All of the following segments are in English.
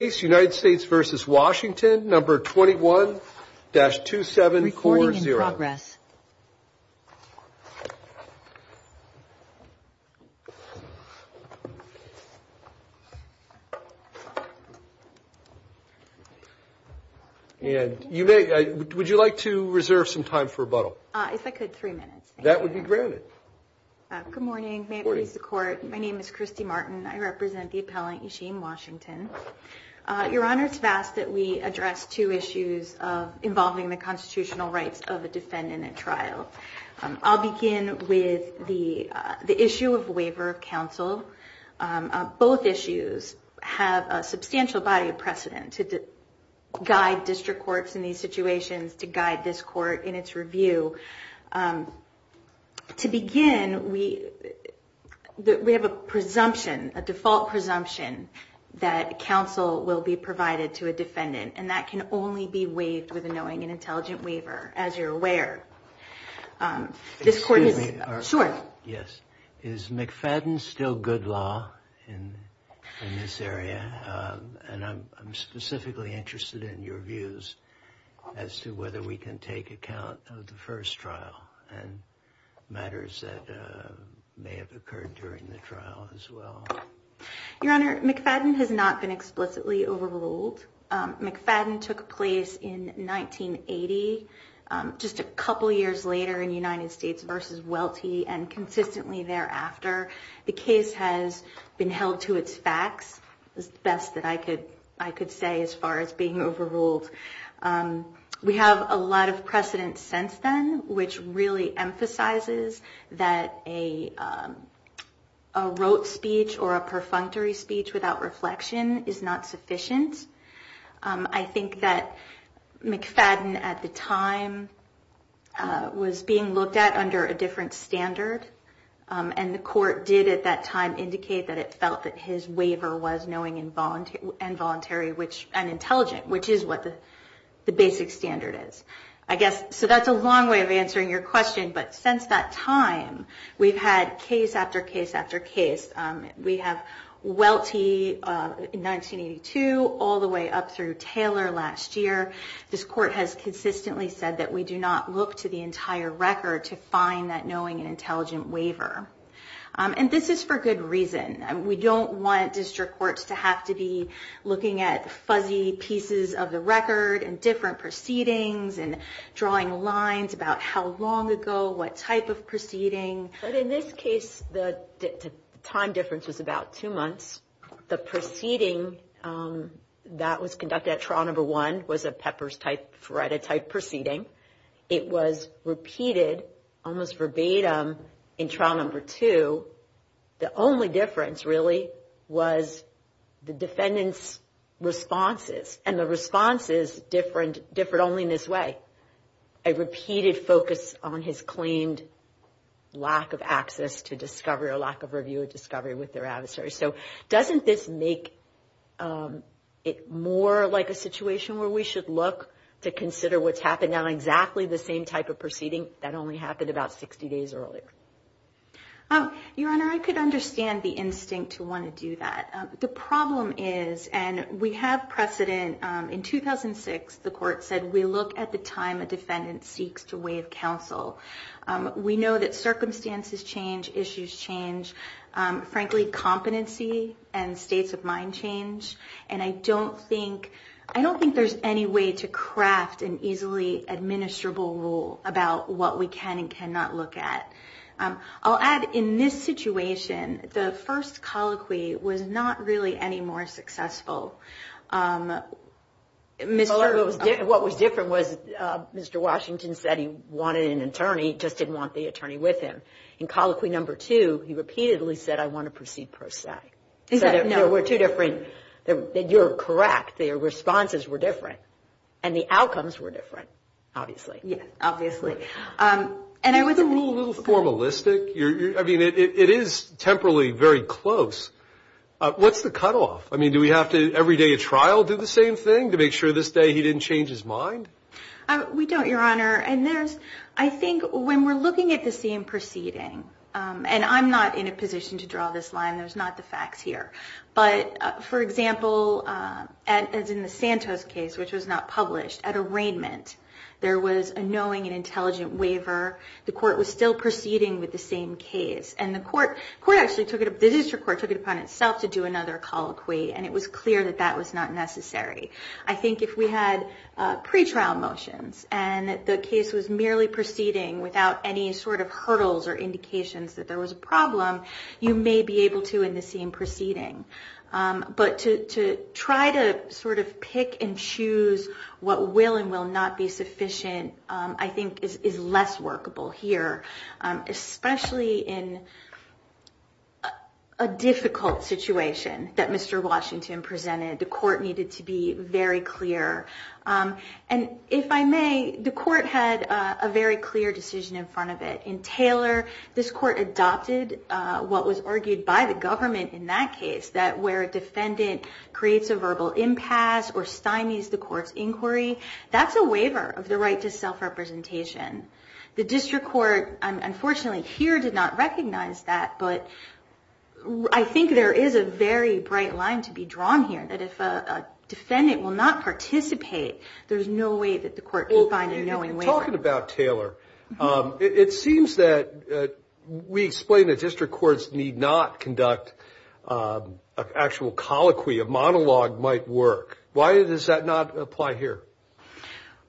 United States versus Washington number 21-2740 and you may would you like to reserve some time for rebuttal if I could three minutes that would be granted good morning may it please the court my name is Christy Martin I your honor to ask that we address two issues of involving the constitutional rights of a defendant at trial I'll begin with the the issue of waiver of counsel both issues have a substantial body of precedent to guide district courts in these situations to guide this court in its review to begin we that we have a presumption a default presumption that counsel will be provided to a defendant and that can only be waived with a knowing and intelligent waiver as you're aware this court yes is McFadden still good law in this area and I'm specifically interested in your views as to whether we can take account of the your honor McFadden has not been explicitly overruled McFadden took place in 1980 just a couple years later in United States versus wealthy and consistently thereafter the case has been held to its facts the best that I could I could say as far as being overruled we have a lot of precedent since then which really emphasizes that a rote speech or a perfunctory speech without reflection is not sufficient I think that McFadden at the time was being looked at under a different standard and the court did at that time indicate that it felt that his waiver was knowing in bond and voluntary which intelligent which is what the basic standard is I guess so that's a long way of answering your question but since that time we've had case after case after case we have wealthy 1982 all the way up through Taylor last year this court has consistently said that we do not look to the entire record to find that knowing intelligent waiver and this is for good reason and we don't want courts to have to be looking at fuzzy pieces of the record and different proceedings and drawing lines about how long ago what type of proceeding but in this case the time difference was about two months the proceeding that was conducted at trial number one was a pepper's type threat a type proceeding it was repeated almost verbatim in trial number two the only difference really was the defendants responses and the responses different different only in this way a repeated focus on his claimed lack of access to discovery or lack of review of discovery with their adversary so doesn't this make it more like a situation where we should look to consider what's happening on exactly the same type of proceeding that only happened about 60 days earlier oh your honor I could understand the instinct to want to do that the problem is and we have precedent in 2006 the court said we look at the time a defendant seeks to waive counsel we know that circumstances change issues change frankly competency and states of mind change and I don't think I don't think there's any way to craft an easily administrable rule about what we can and cannot look at I'll add in this situation the first colloquy was not really any more successful mr. what was different was mr. Washington said he wanted an attorney just didn't want the attorney with him in colloquy number two he repeatedly said I want to proceed per se is that no we're two different that you're correct their responses were different and the outcomes were different obviously yeah it is temporarily very close what's the cutoff I mean do we have to every day a trial do the same thing to make sure this day he didn't change his mind we don't your honor and there's I think when we're looking at the same proceeding and I'm not in a position to draw this line there's not the facts here but for example as in the Santos case which was not published at arraignment there was a intelligent waiver the court was still proceeding with the same case and the court court actually took it up the district court took it upon itself to do another colloquy and it was clear that that was not necessary I think if we had pre-trial motions and the case was merely proceeding without any sort of hurdles or indications that there was a problem you may be able to in the same proceeding but to try to sort of pick and choose what will and will not be efficient I think is less workable here especially in a difficult situation that Mr. Washington presented the court needed to be very clear and if I may the court had a very clear decision in front of it in Taylor this court adopted what was argued by the government in that case that where a defendant creates a right to self-representation the district court unfortunately here did not recognize that but I think there is a very bright line to be drawn here that if a defendant will not participate there's no way that the court will find a knowing way. You've been talking about Taylor it seems that we explain that district courts need not conduct an actual colloquy a monologue might work why does that not apply here?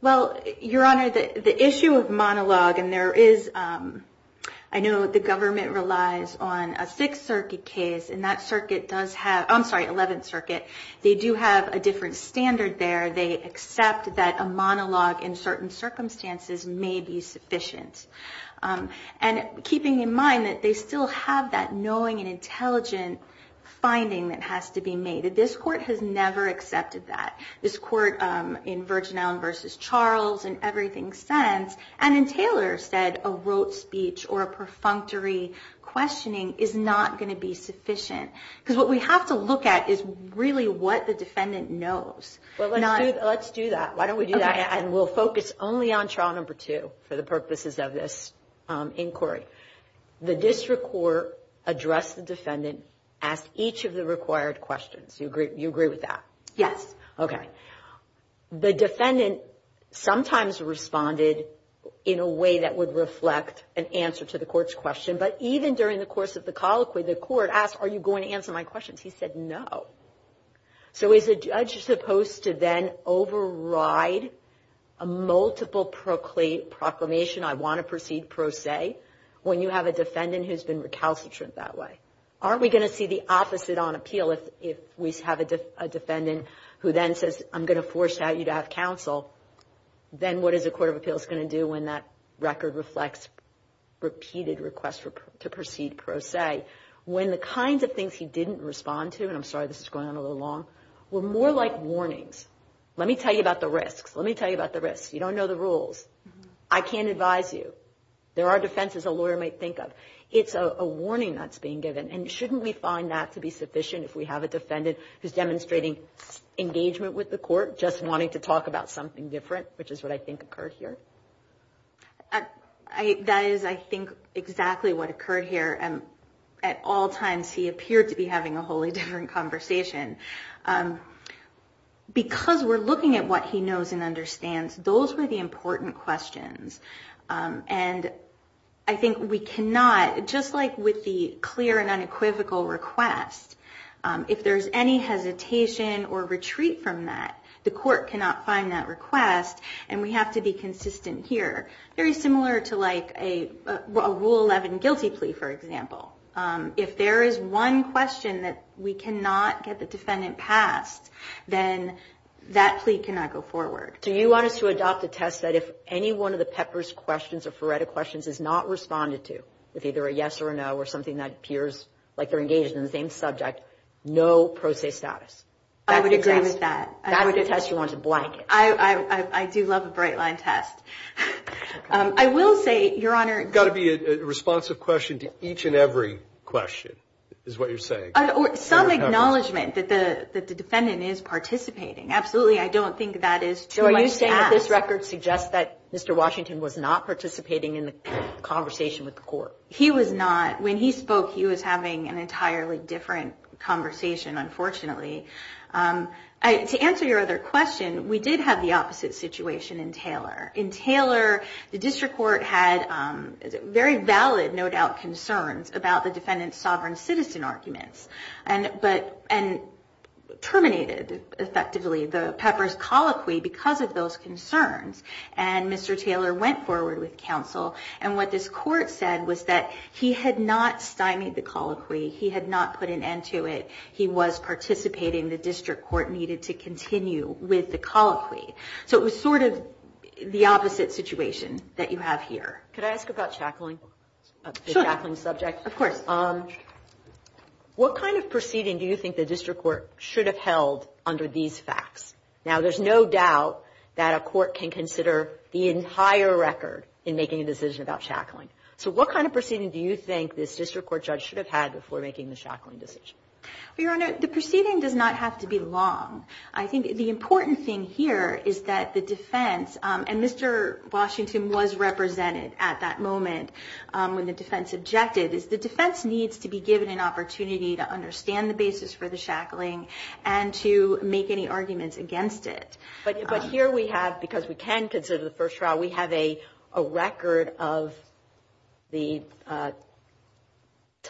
Well your honor the issue of monologue and there is I know the government relies on a 6th circuit case and that circuit does have I'm sorry 11th circuit they do have a different standard there they accept that a monologue in certain circumstances may be sufficient and keeping in mind that they still have that knowing and intelligent finding that has to be made this court has never accepted that this court in Virgin Island versus Charles and everything sense and Taylor said a rote speech or a perfunctory questioning is not going to be sufficient because what we have to look at is really what the defendant knows. Well let's do that why don't we do that and we'll focus only on trial number two for the purposes of this inquiry. The district court addressed the defendant asked each of the required questions you agree you agree with that? Yes. Okay the defendant sometimes responded in a way that would reflect an answer to the court's question but even during the course of the colloquy the court asked are you going to answer my questions he said no. So is a judge supposed to then override a multiple proclamation I want to proceed pro se when you have a defendant who's been recalcitrant that way? Aren't we going to see the opposite on appeal if we have a defendant who then says I'm going to force out you to have counsel then what is a court of appeals going to do when that record reflects repeated requests to proceed pro se when the kinds of things he didn't respond to and I'm sorry this is going on a little long we're more like warnings let me tell you about the risks let me tell you about the risks you don't know the rules I can't advise you there are defenses a lawyer might think of it's a warning that's being given and shouldn't we find that to be sufficient if we have a defendant who's demonstrating engagement with the court just wanting to talk about something different which is what I think occurred here. That is I think exactly what occurred here and at all times he appeared to be having a wholly different conversation because we're looking at what he knows and understands those were the important questions and I think we cannot just like with the clear and unequivocal request if there's any hesitation or retreat from that the court cannot find that request and we have to be consistent here very similar to like a rule 11 guilty plea for example if there is one question that we cannot get the defendant passed then that plea cannot go forward. Do you want us to adopt a test that if any one of the PEPPERS questions or FRERETA questions is not responded to with either a yes or no or something that appears like they're engaged in the same subject no pro se status. I would agree with that. That's the test you want to blank. I do love a bright line test. I will say your honor. It's got to be a responsive question to each and every question is what you're saying. Some acknowledgment that the defendant is participating. Absolutely I don't think that is true. Are you saying that this record suggests that Mr. Washington was not participating in the conversation with the court. He was not when he spoke he was having an entirely different conversation unfortunately. To answer your other question we did have the opposite situation in which Mr. Taylor the district court had very valid no doubt concerns about the defendant's sovereign citizen arguments and but and terminated effectively the PEPPERS colloquy because of those concerns and Mr. Taylor went forward with counsel and what this court said was that he had not stymied the colloquy. He had not put an end to it. He was participating. The district court with the colloquy. So it was sort of the opposite situation that you have here. Could I ask about shackling shackling subject. Of course. What kind of proceeding do you think the district court should have held under these facts. Now there's no doubt that a court can consider the entire record in making a decision about shackling. So what kind of proceeding do you think this district court judge should have had before making the shackling decision. Your Honor the proceeding does not have to be long. I think the important thing here is that the defense and Mr. Washington was represented at that moment when the defense objected is the defense needs to be given an opportunity to understand the basis for the shackling and to make any arguments against it. But here we have because we can consider the first trial we have a record of the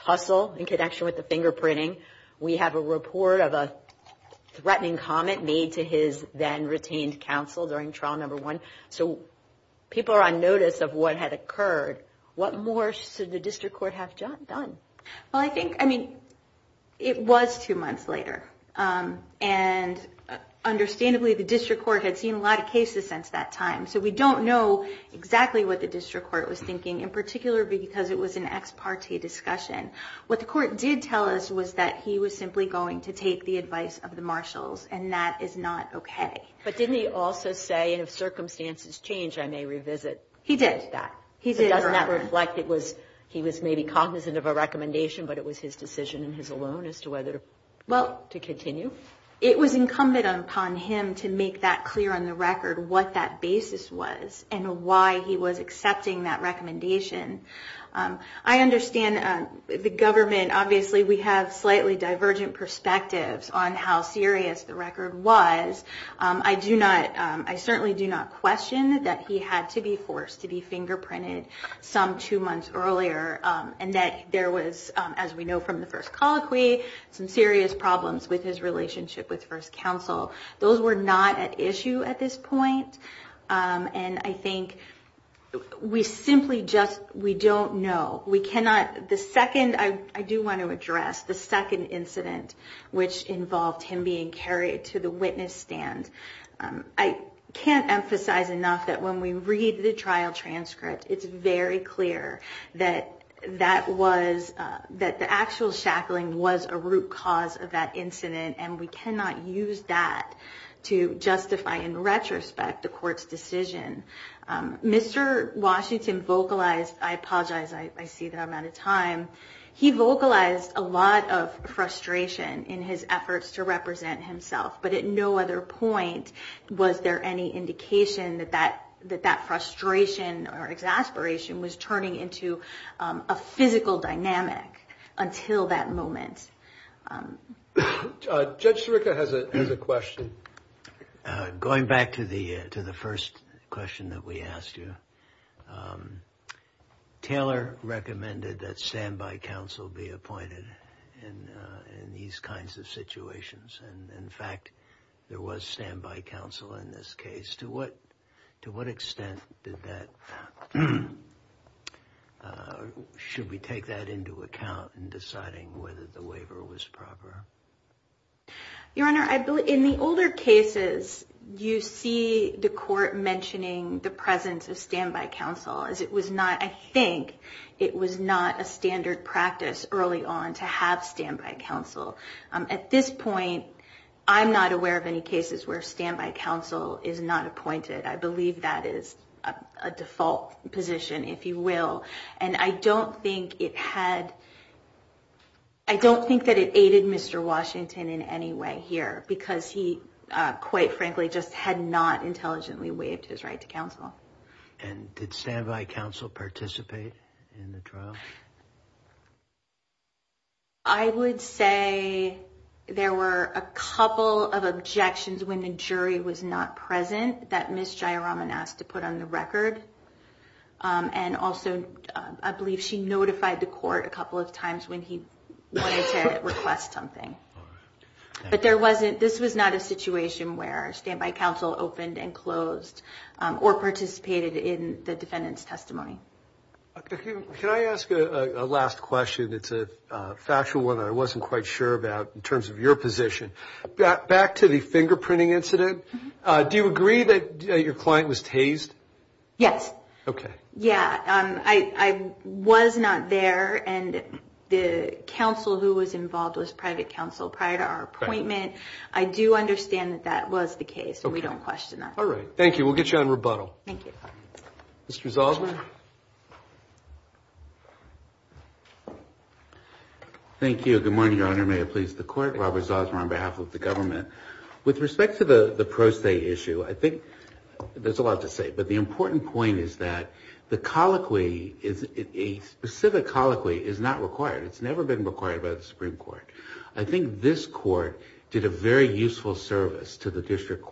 tussle in connection with the fingerprinting. We have a report of a threatening comment made to his then retained counsel during trial number one. So people are on notice of what had occurred. What more should the district court have done. Well I think I mean it was two months later and understandably the district court had seen a lot of cases since that time. So we don't know exactly what the district court was thinking in particular because it was an ex parte discussion. What the court did tell us was that he was simply going to take the advice of the marshals and that is not okay. But didn't he also say if circumstances change I may revisit. He did. Doesn't that reflect he was maybe cognizant of a recommendation but it was his decision and his alone as to whether to continue. It was incumbent upon him to make that clear on the record what that basis was and why he was accepting that recommendation. I understand the government obviously we have slightly divergent perspectives on how serious the record was. I do not I certainly do not question that he had to be forced to be fingerprinted some two months earlier and that there was as we know from the first colloquy some serious problems with his relationship with first counsel. Those were not at issue at this point. And I think we simply just we don't know. We cannot. The second I do want to address the second incident which involved him being carried to the witness stand. I can't emphasize enough that when we read the trial transcript it's very clear that that was that the actual shackling was a root cause of that incident and we cannot use that to justify in retrospect the court's decision. Mr. Washington vocalized. I apologize. I see that I'm out of time. He vocalized a lot of frustration in his efforts to represent himself. But at no other point was there any indication that that that that frustration or exasperation was turning into a physical dynamic until that moment. Judge Sirica has a question going back to the to the first question that we asked you. Taylor recommended that standby counsel be appointed in these kinds of situations. And in fact there was standby counsel in this case. To what to what extent did that. Should we take that into account in deciding whether the waiver was proper. Your Honor I believe in the older cases you see the court mentioning the presence of standard practice early on to have standby counsel. At this point I'm not aware of any cases where standby counsel is not appointed. I believe that is a default position if you will. And I don't think it had I don't think that it aided Mr. Washington in any way here because he quite frankly just had not I would say there were a couple of objections when the jury was not present that Ms. Jayaraman asked to put on the record. And also I believe she notified the court a couple of times when he wanted to request something. But there wasn't this was not a situation where standby counsel opened and closed or participated in the question. It's a factual one. I wasn't quite sure about in terms of your position. Back to the fingerprinting incident. Do you agree that your client was tased. Yes. OK. Yeah. I was not there. And the counsel who was involved was private counsel prior to our appointment. I do understand that that was the Thank you. Good morning Your Honor. May it please the court. Robert Zaws on behalf of the government. With respect to the pro se issue I think there's a lot to say. But the important point is that the colloquy is a specific colloquy is not required. It's never been required by the Supreme Court. I think this court did a very good job in the district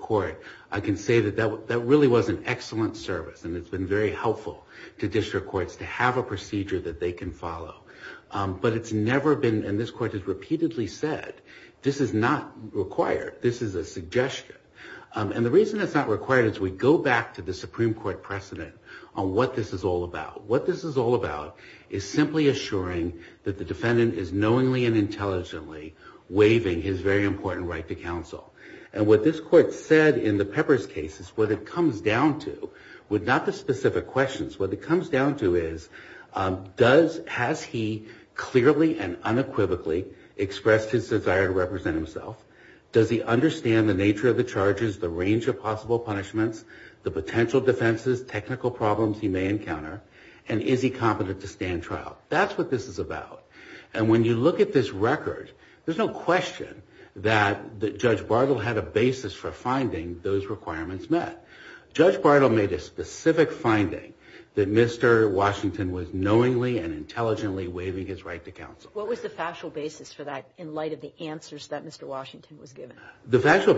court. I can say that that really was an excellent service and it's been very helpful to district courts to have a procedure that they can follow. But it's never been and this court has repeatedly said this is not required. This is a suggestion. And the reason it's not required is we go back to the Supreme Court precedent on what this is all about. What this is all about is simply assuring that the defendant is knowingly and intelligently waiving his very important right to counsel. And what this court said in the Peppers case is what it comes down to would not the specific questions. What it comes down to is does has he clearly and unequivocally expressed his desire to represent himself. Does he understand the nature of the charges the range of possible punishments the potential defenses technical problems he may encounter. And is he competent to stand trial. That's what this is all about. And when you look at this record there's no question that Judge Bartle had a basis for finding those requirements met. Judge Bartle made a specific finding that Mr. Washington was knowingly and intelligently waiving his right to counsel. What was the factual basis for that in light of the answers that Mr. Washington gave. And I do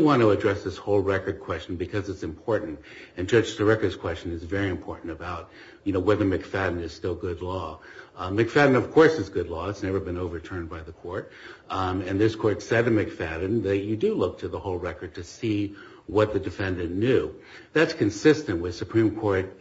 want to address this whole record question because it's important. And Judge Sirica's question is very important about whether McFadden is still good law. McFadden of course is good law. It's never been overturned by the court. And this court said to McFadden that you do look to the whole record to see what the defendant knew. That's consistent with Supreme Court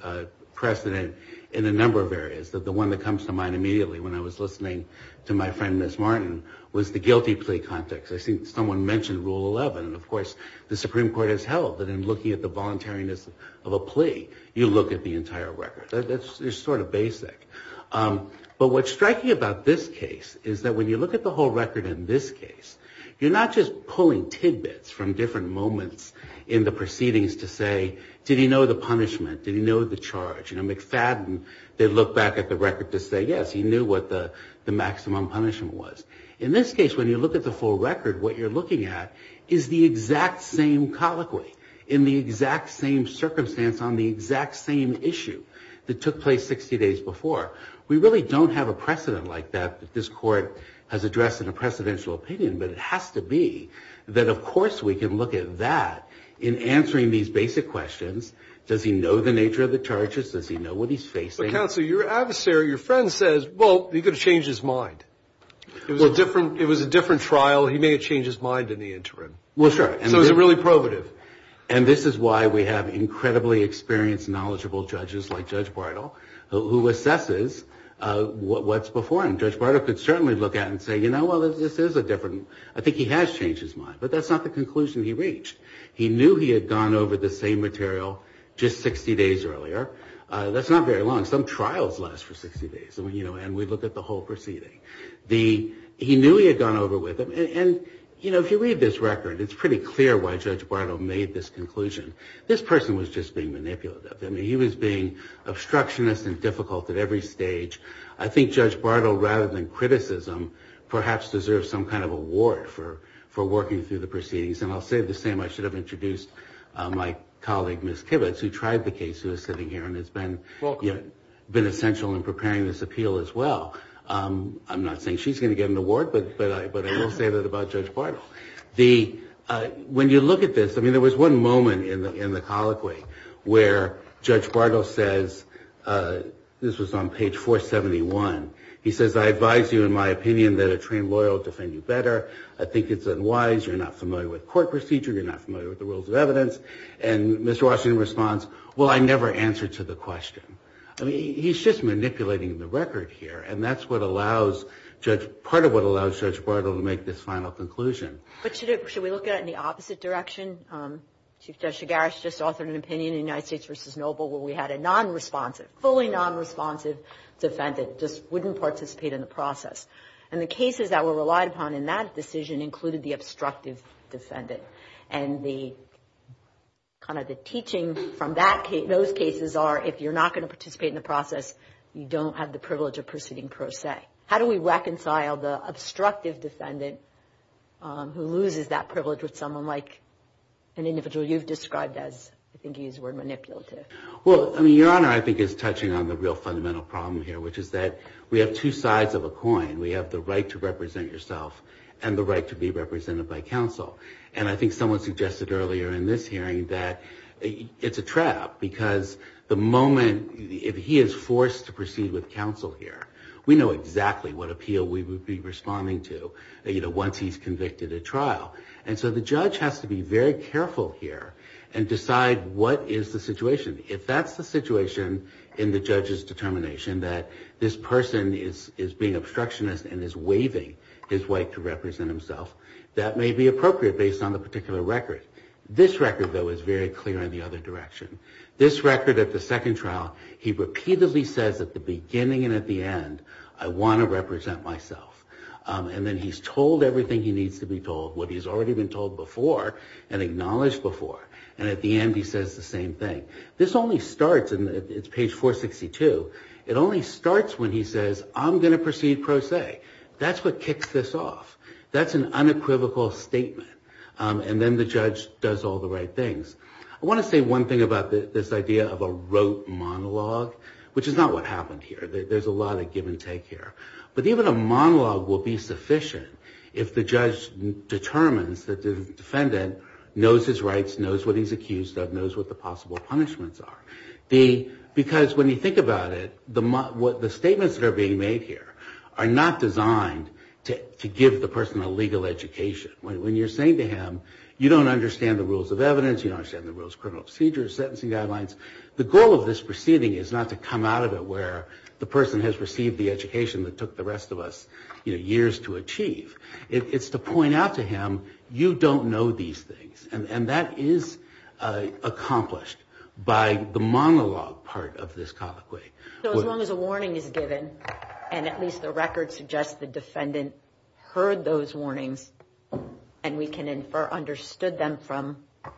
precedent in a number of areas. The one that comes to mind immediately when I was listening to my friend Ms. Martin was the guilty plea context. I think someone mentioned Rule 11. And of course the Supreme Court has held that in looking at the voluntariness of a plea you look at the entire record. That's sort of basic. But what's striking about this case is that when you look at the whole record in this case you're not just pulling tidbits from different moments in the proceedings to say did he know the punishment. Did he know the maximum punishment was. In this case when you look at the full record what you're looking at is the exact same colloquy in the exact same circumstance on the exact same issue that took place 60 days before. We really don't have a precedent like that this court has addressed in a precedential opinion. But it has to be that of course we can look at that in answering these basic questions. Does he know the nature of the charges. Does he know what he's facing. Counsel your adversary your friend says well he could have changed his mind. It was different. It was a different trial. He may have changed his mind in the interim. Well sure. And it was really probative. And this is why we have incredibly experienced knowledgeable judges like Judge Bartle who assesses what's before him. Judge Bartle could certainly look at and say you know well this is a different. I think he has changed his mind. But that's not the whole proceeding. He knew he had gone over with it. And you know if you read this record it's pretty clear why Judge Bartle made this conclusion. This person was just being manipulative. I mean he was being obstructionist and difficult at every stage. I think Judge Bartle rather than criticism perhaps deserves some kind of award for for working through the proceedings. And I'll say the same. I should have introduced my colleague Miss Kibitz who tried the case who is been essential in preparing this appeal as well. I'm not saying she's going to get an award but I will say that about Judge Bartle. When you look at this I mean there was one moment in the in the colloquy where Judge Bartle says this was on page 471. He says I advise you in my opinion that a trained lawyer will defend you better. I think it's unwise. You're not familiar with court procedure. You're not familiar with the rules of evidence. And Mr. Kibitz never answered to the question. I mean he's just manipulating the record here. And that's what allows Judge, part of what allows Judge Bartle to make this final conclusion. But should we look at it in the opposite direction? Chief Judge Shigarash just authored an opinion in United States v. Noble where we had a non-responsive, fully non-responsive defendant just wouldn't participate in the process. And the cases that were relied upon in that decision included the non-responsive defendant. And the other cases are if you're not going to participate in the process you don't have the privilege of proceeding per se. How do we reconcile the obstructive defendant who loses that privilege with someone like an individual you've described as, I think you used the word manipulative. Well I mean Your Honor I think is touching on the real fundamental problem here which is that we have two sides of a coin. We have the right to the moment if he is forced to proceed with counsel here, we know exactly what appeal we would be responding to once he's convicted at trial. And so the judge has to be very careful here and decide what is the situation. If that's the situation in the judge's determination that this person is being obstructionist and is waiving his right to represent himself, that may be appropriate based on the particular record. This record though is very clear in the other direction. This record at the second trial he repeatedly says at the beginning and at the end, I want to represent myself. And then he's told everything he needs to be told, what he's already been told before and acknowledged before. And at the end he says the same thing. This only starts, and it's page 462, it only starts when he says I'm going to proceed pro se. That's what kicks this off. That's an unequivocal statement. And then the judge does all the right things. I want to say one thing about this idea of a rote monologue, which is not what happened here. There's a lot of give and take here. But even a monologue will be sufficient if the judge determines that the defendant knows his rights, knows what he's accused of, knows what the possible punishments are. Because when you think about it, the statements that are being made here are not designed to give the person a legal education. When you're saying to him, you don't understand the rules of evidence, you don't understand the rules of criminal procedure, sentencing guidelines, the goal of this proceeding is not to come out of it where the person has received the education that took the rest of us years to achieve. It's to point out to him, you don't know these things. And that is accomplished by the monologue part of this colloquy. So as long as a warning is given, and at least the record suggests the defendant heard those warnings, and we can infer understood them from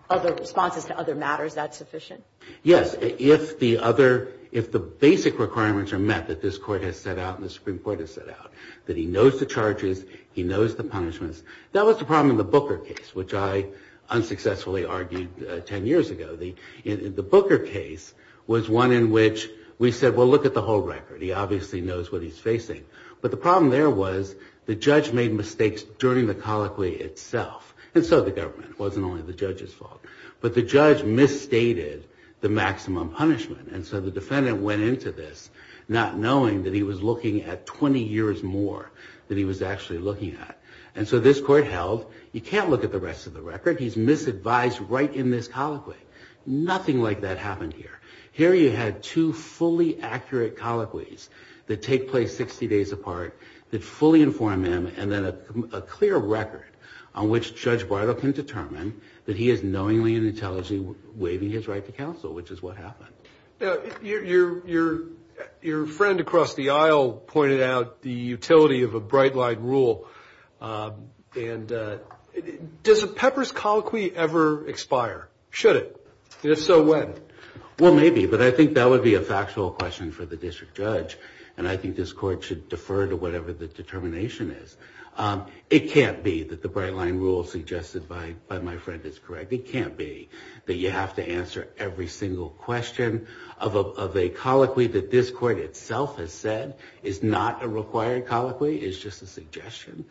other responses to other matters, that's sufficient? Yes. If the other, if the basic requirements are met that this Court has set out and the Supreme Court has set out, that he knows the charges, he knows the punishments, that was the problem in the Booker case, which I unsuccessfully argued 10 years ago. The Booker case was one in which we said, well, look at the whole record. He obviously knows what he's facing. But the problem there was the judge made mistakes during the colloquy itself. And so did the government. It wasn't only the judge's fault. But the judge misstated the maximum punishment. And so the defendant went into this not knowing that he was looking at 20 years more than he was actually looking at. And so this Court held, you can't look at the rest of the record. He's misadvised right in this colloquy. Nothing like that happened here. Here you had two fully accurate colloquies that take place 60 days apart, that fully inform him, and then a clear record on which Judge Bartle can determine that he is knowingly and intelligently waiving his right to punish. Your friend across the aisle pointed out the utility of a bright-line rule. Does a Pepper's colloquy ever expire? Should it? And if so, when? Well, maybe. But I think that would be a factual question for the District Judge. And I think this Court should defer to whatever the determination is. It can't be that the bright-line rule suggested by my friend is correct. It can't be that you have to answer every single question of a colloquy. It can't be that you have to answer every single question of a colloquy. The colloquy that this Court itself has said is not a required colloquy, it's just a suggestion.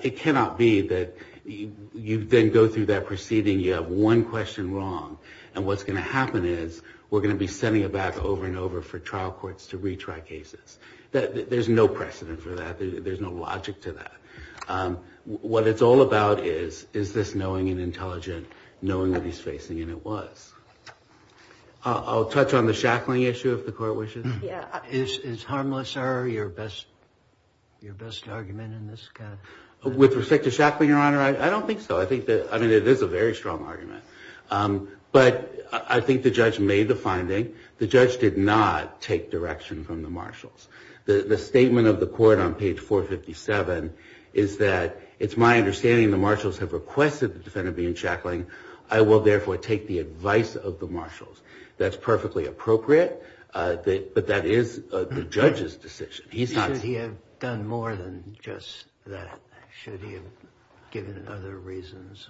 It cannot be that you then go through that proceeding, you have one question wrong, and what's going to happen is we're going to be sending it back over and over for trial courts to retry cases. There's no precedent for that. There's no logic to that. What it's all about is, is this knowing and intelligent, knowing what he's facing, and it was. I'll touch on the shackling issue if the Court wishes. Is harmless error your best argument in this case? With respect to shackling, Your Honor, I don't think so. I think that, I mean, it is a very strong argument. But I think the Judge made the finding. The Judge did not take direction from the Marshals. The statement of the Court on page 457 is that, it's my understanding the Marshals have requested the defendant be in shackling. I will therefore take the advice of the Marshals. That's perfectly appropriate, but that is the Judge's decision. He's not... He said he had done more than just that. Should he have given other reasons?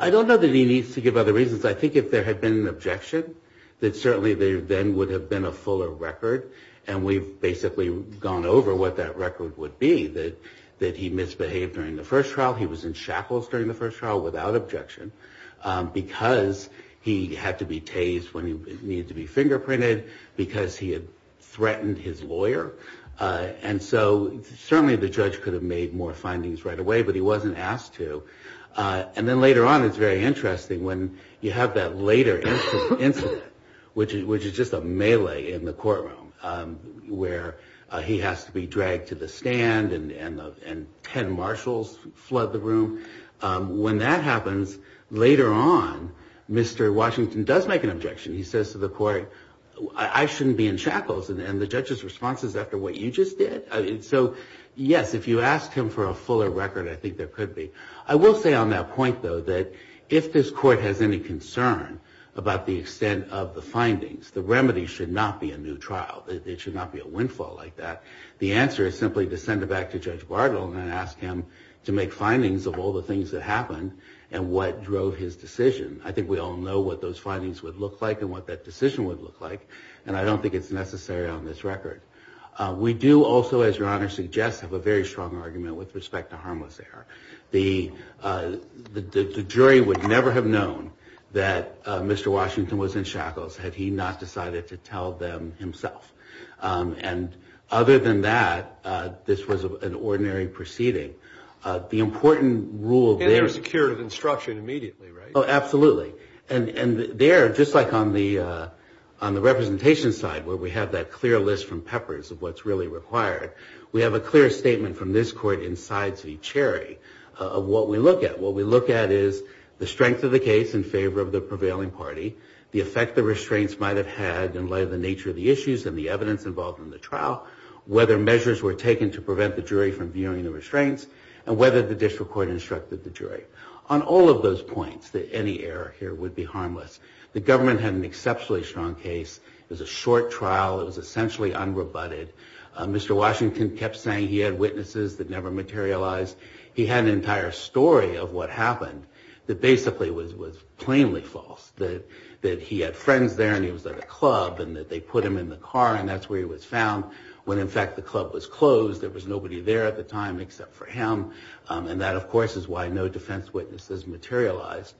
I don't know that he needs to give other reasons. I think if there had been an objection, that certainly there then would have been a fuller record, and we've basically gone over what that record would be, that he misbehaved during the first trial. He was in shackles during the first trial without objection, because he had to be tased when he needed to be fingerprinted, because he had threatened his lawyer. And so certainly the Judge could have made more findings right away, but he wasn't asked to. And then later on, it's very interesting when you have that later incident, which is just a melee in the courtroom, where he has to be dragged to the stand, and 10 Marshals flood the room. When that happens, it's very interesting. When that happens, later on, Mr. Washington does make an objection. He says to the Court, I shouldn't be in shackles, and the Judge's response is, after what you just did? So yes, if you ask him for a fuller record, I think there could be. I will say on that point, though, that if this Court has any concern about the extent of the findings, the remedy should not be a new trial. It should not be a windfall like that. The answer is simply to send it back to Judge Bartle and ask him to make findings of all the things that happened and what drove his decision. I think we all know what those findings would look like and what that decision would look like, and I don't think it's necessary on this record. We do also, as your Honor suggests, have a very strong argument with respect to harmless error. The jury would never have known that Mr. Washington was in shackles, had he not decided to tell them himself. And other than that, this was an ordinary proceeding. The important rule there... And there was a curative instruction immediately, right? Oh, absolutely. And there, just like on the representation side, where we have that clear list from Peppers of what's really required, we have a clear statement from this Court in sides v. Cherry of what we look at. What we look at is the strength of the case in favor of the prevailing party, the effect the restraints might have had in light of the nature of the issues and the evidence involved in the trial, whether measures were taken to prevent the jury from viewing the restraints, and whether the district court instructed the jury. On all of those points, any error here would be harmless. The government had an exceptionally strong case. It was a short trial. It was essentially unrebutted. Mr. Washington kept saying he had witnesses that never materialized. He had an entire story of what happened that basically was plainly false, that he had witnesses that never materialized, that he had friends there, and he was at a club, and that they put him in the car, and that's where he was found, when in fact the club was closed. There was nobody there at the time except for him. And that, of course, is why no defense witnesses materialized.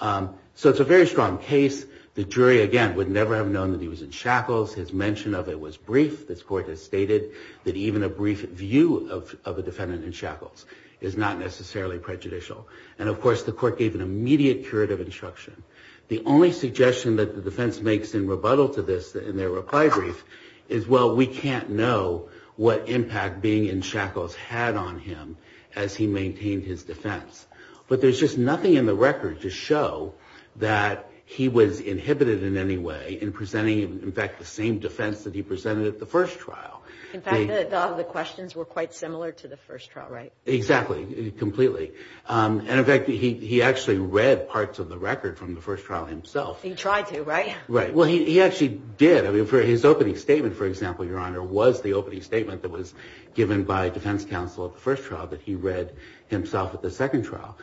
So it's a very strong case. The jury, again, would never have known that he was in shackles. His mention of it was brief. This Court has stated that even a brief view of a defendant in shackles is not necessarily prejudicial. And, of course, the Court gave an immediate curative instruction. The only suggestion that the defense makes in rebuttal to this, in their reply brief, is, well, we can't know what impact being in shackles had on him as he maintained his defense. But there's just nothing in the record to show that he was inhibited in any way in presenting, in fact, the same defense that he presented at the first trial. In fact, a lot of the questions were quite similar to the first trial, right? Exactly, completely. And, in fact, he actually read parts of the record from the first trial himself. He tried to, right? Right. Well, he actually did. His opening statement, for example, Your Honor, was the opening statement that was given by defense counsel at the first trial that he read himself at the second trial.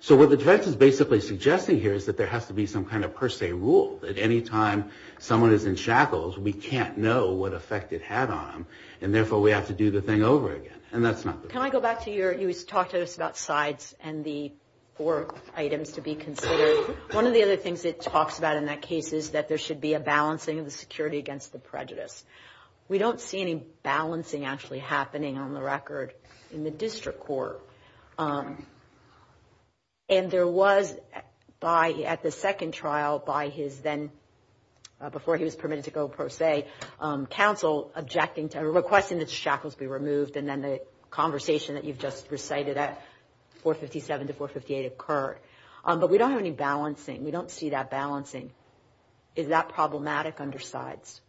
So what the defense is basically suggesting here is that there has to be some kind of per se rule, that any time someone is in shackles, we can't know what effect it had on them, and therefore we have to do the thing over again. And that's not the case. You talked to us about sides and the four items to be considered. One of the other things it talks about in that case is that there should be a balancing of the security against the prejudice. We don't see any balancing actually happening on the record in the district court. And there was, at the second trial, by his then, before he was permitted to go per se, counsel objecting to, requesting that shackles be removed, and then the conversation that you've just recited at 457 to 458 occurred. But we don't have any balancing. We don't see that balancing. Is that problematic under sides?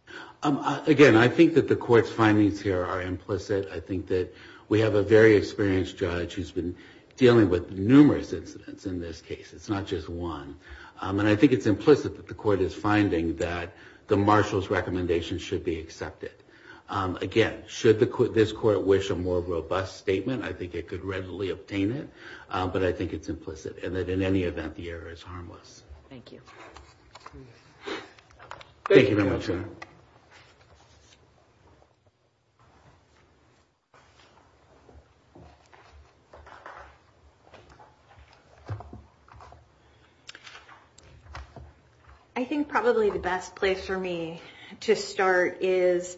Again, I think that the court's findings here are implicit. I think that we have a very experienced judge who's been dealing with numerous incidents in this case. It's not just one. And I think it's implicit that the court is finding that the marshal's recommendation should be rejected. I don't think that's a bad statement. I think it could readily obtain it. But I think it's implicit, and that in any event, the error is harmless. Thank you. Thank you very much. Thank you. I think probably the best place for me to start is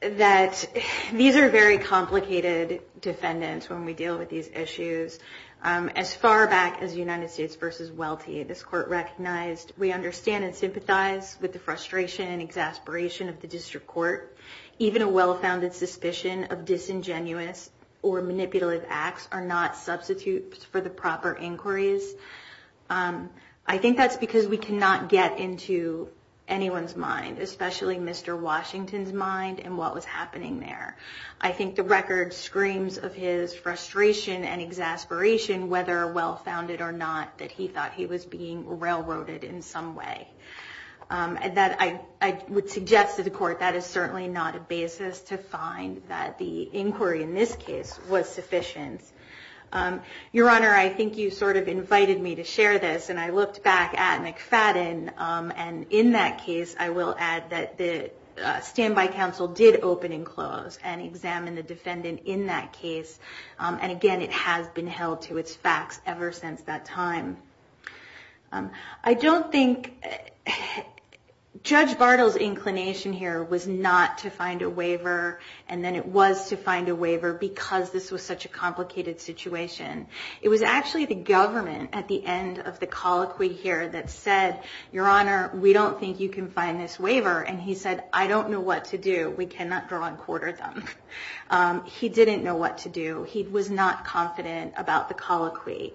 that these are very complicated issues. And I think that we have to look at them as a group of defendants when we deal with these issues. As far back as United States v. Welty, this court recognized, we understand and sympathize with the frustration and exasperation of the district court. Even a well-founded suspicion of disingenuous or manipulative acts are not substitutes for the proper inquiries. I think that's because we cannot get into anyone's mind, especially Mr. Washington's mind, and what was the nature of his actions in terms of his frustration and exasperation, whether well-founded or not, that he thought he was being railroaded in some way. I would suggest to the court that is certainly not a basis to find that the inquiry in this case was sufficient. Your Honor, I think you sort of invited me to share this. And I looked back at McFadden. And in that case, I will add that the standby counsel did open and close and examine the defendant in that case. And again, it has been held to its facts ever since that time. I don't think Judge Bartle's inclination here was not to find a waiver. And then it was to find a waiver because this was such a complicated situation. It was actually the government at the end of the colloquy here that said, Your Honor, we don't think you can find this waiver. And he said, I don't know what to do. We cannot draw and quarter them. He didn't know what to do. He was not confident about the colloquy.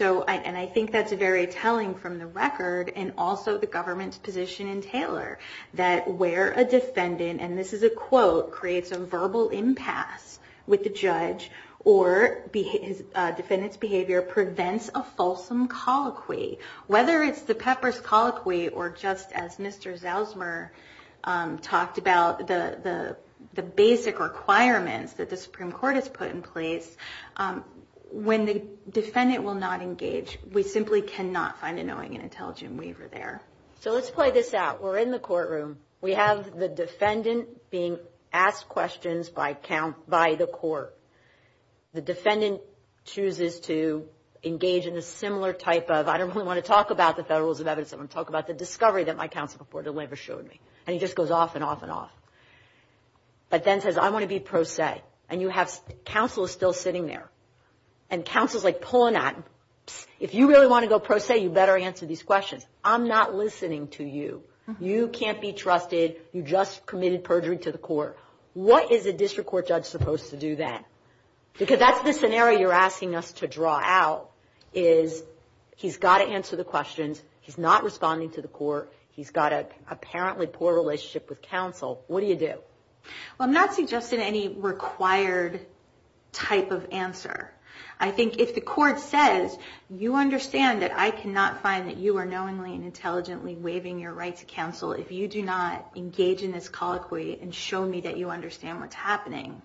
And I think that's very telling from the record, and also the government's position in Taylor, that where a defendant, and this is a quote, creates a verbal impasse with the judge or defendant's behavior prevents a fulsome colloquy. Whether it's the Pepper's Colloquy or just as Mr. Zausmer talked about, the basic requirements of the Supreme Court is put in place. When the defendant will not engage, we simply cannot find a knowing and intelligent waiver there. So let's play this out. We're in the courtroom. We have the defendant being asked questions by the court. The defendant chooses to engage in a similar type of, I don't really want to talk about the federalism evidence, I want to talk about the discovery that my counsel before the waiver showed me. And he just goes off and off and off. But then says, I want to be pro se. And counsel is still sitting there. And counsel's like pulling out. If you really want to go pro se, you better answer these questions. I'm not listening to you. You can't be trusted. You just committed perjury to the court. What is a district court judge supposed to do then? Because that's the scenario you're asking us to draw out, is he's got to answer the questions. He's not responding to the court. He's got to answer the questions. So if you're in an apparently poor relationship with counsel, what do you do? Well, I'm not suggesting any required type of answer. I think if the court says, you understand that I cannot find that you are knowingly and intelligently waiving your right to counsel if you do not engage in this colloquy and show me that you understand what's happening.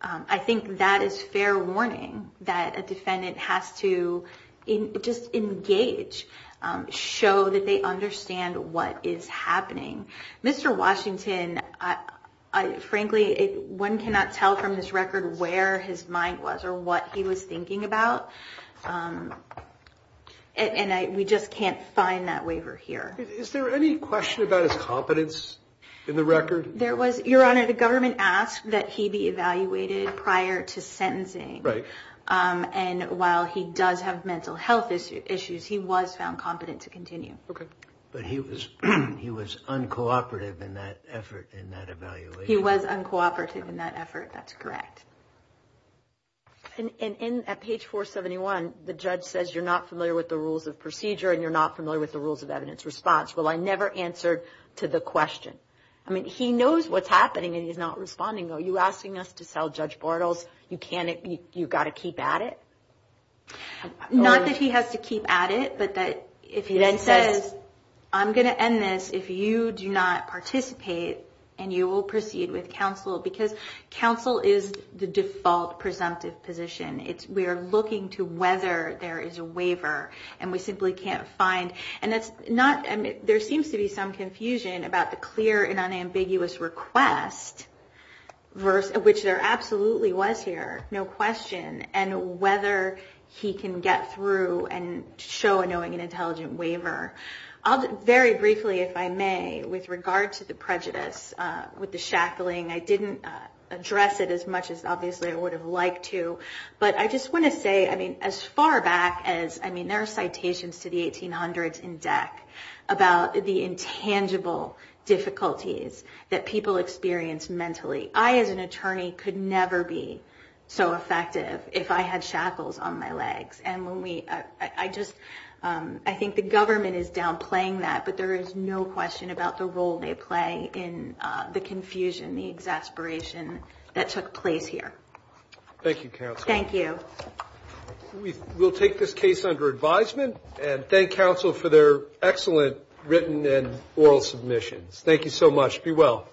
I think that is fair warning, that a defendant has to just engage, show that they understand what is going on. Show them what is happening. Mr. Washington, frankly, one cannot tell from this record where his mind was or what he was thinking about. And we just can't find that waiver here. Is there any question about his competence in the record? Your Honor, the government asked that he be evaluated prior to sentencing. And while he does have mental health issues, he was found incompetent to continue. But he was uncooperative in that effort, in that evaluation? He was uncooperative in that effort. That's correct. And at page 471, the judge says you're not familiar with the rules of procedure and you're not familiar with the rules of evidence response. Well, I never answered to the question. I mean, he knows what's happening and he's not responding. Are you asking us to respond? I'm going to end this. If you do not participate and you will proceed with counsel. Because counsel is the default presumptive position. We are looking to whether there is a waiver. And we simply can't find. And there seems to be some confusion about the clear and unambiguous request, which there absolutely was here, no question. And whether he can get through and show a knowing and intelligent waiver. Very briefly, if I may, with regard to the prejudice, with the shackling, I didn't address it as much as obviously I would have liked to. But I just want to say, I mean, as far back as, I mean, there are citations to the 1800s in DEC about the intangible difficulties that people experience mentally. I, as an attorney, could never be so effective. If I had shackles on my legs. And when we, I just, I think the government is downplaying that. But there is no question about the role they play in the confusion, the exasperation that took place here. Thank you, counsel. We'll take this case under advisement and thank counsel for their excellent written and oral submissions. Thank you so much. Be well.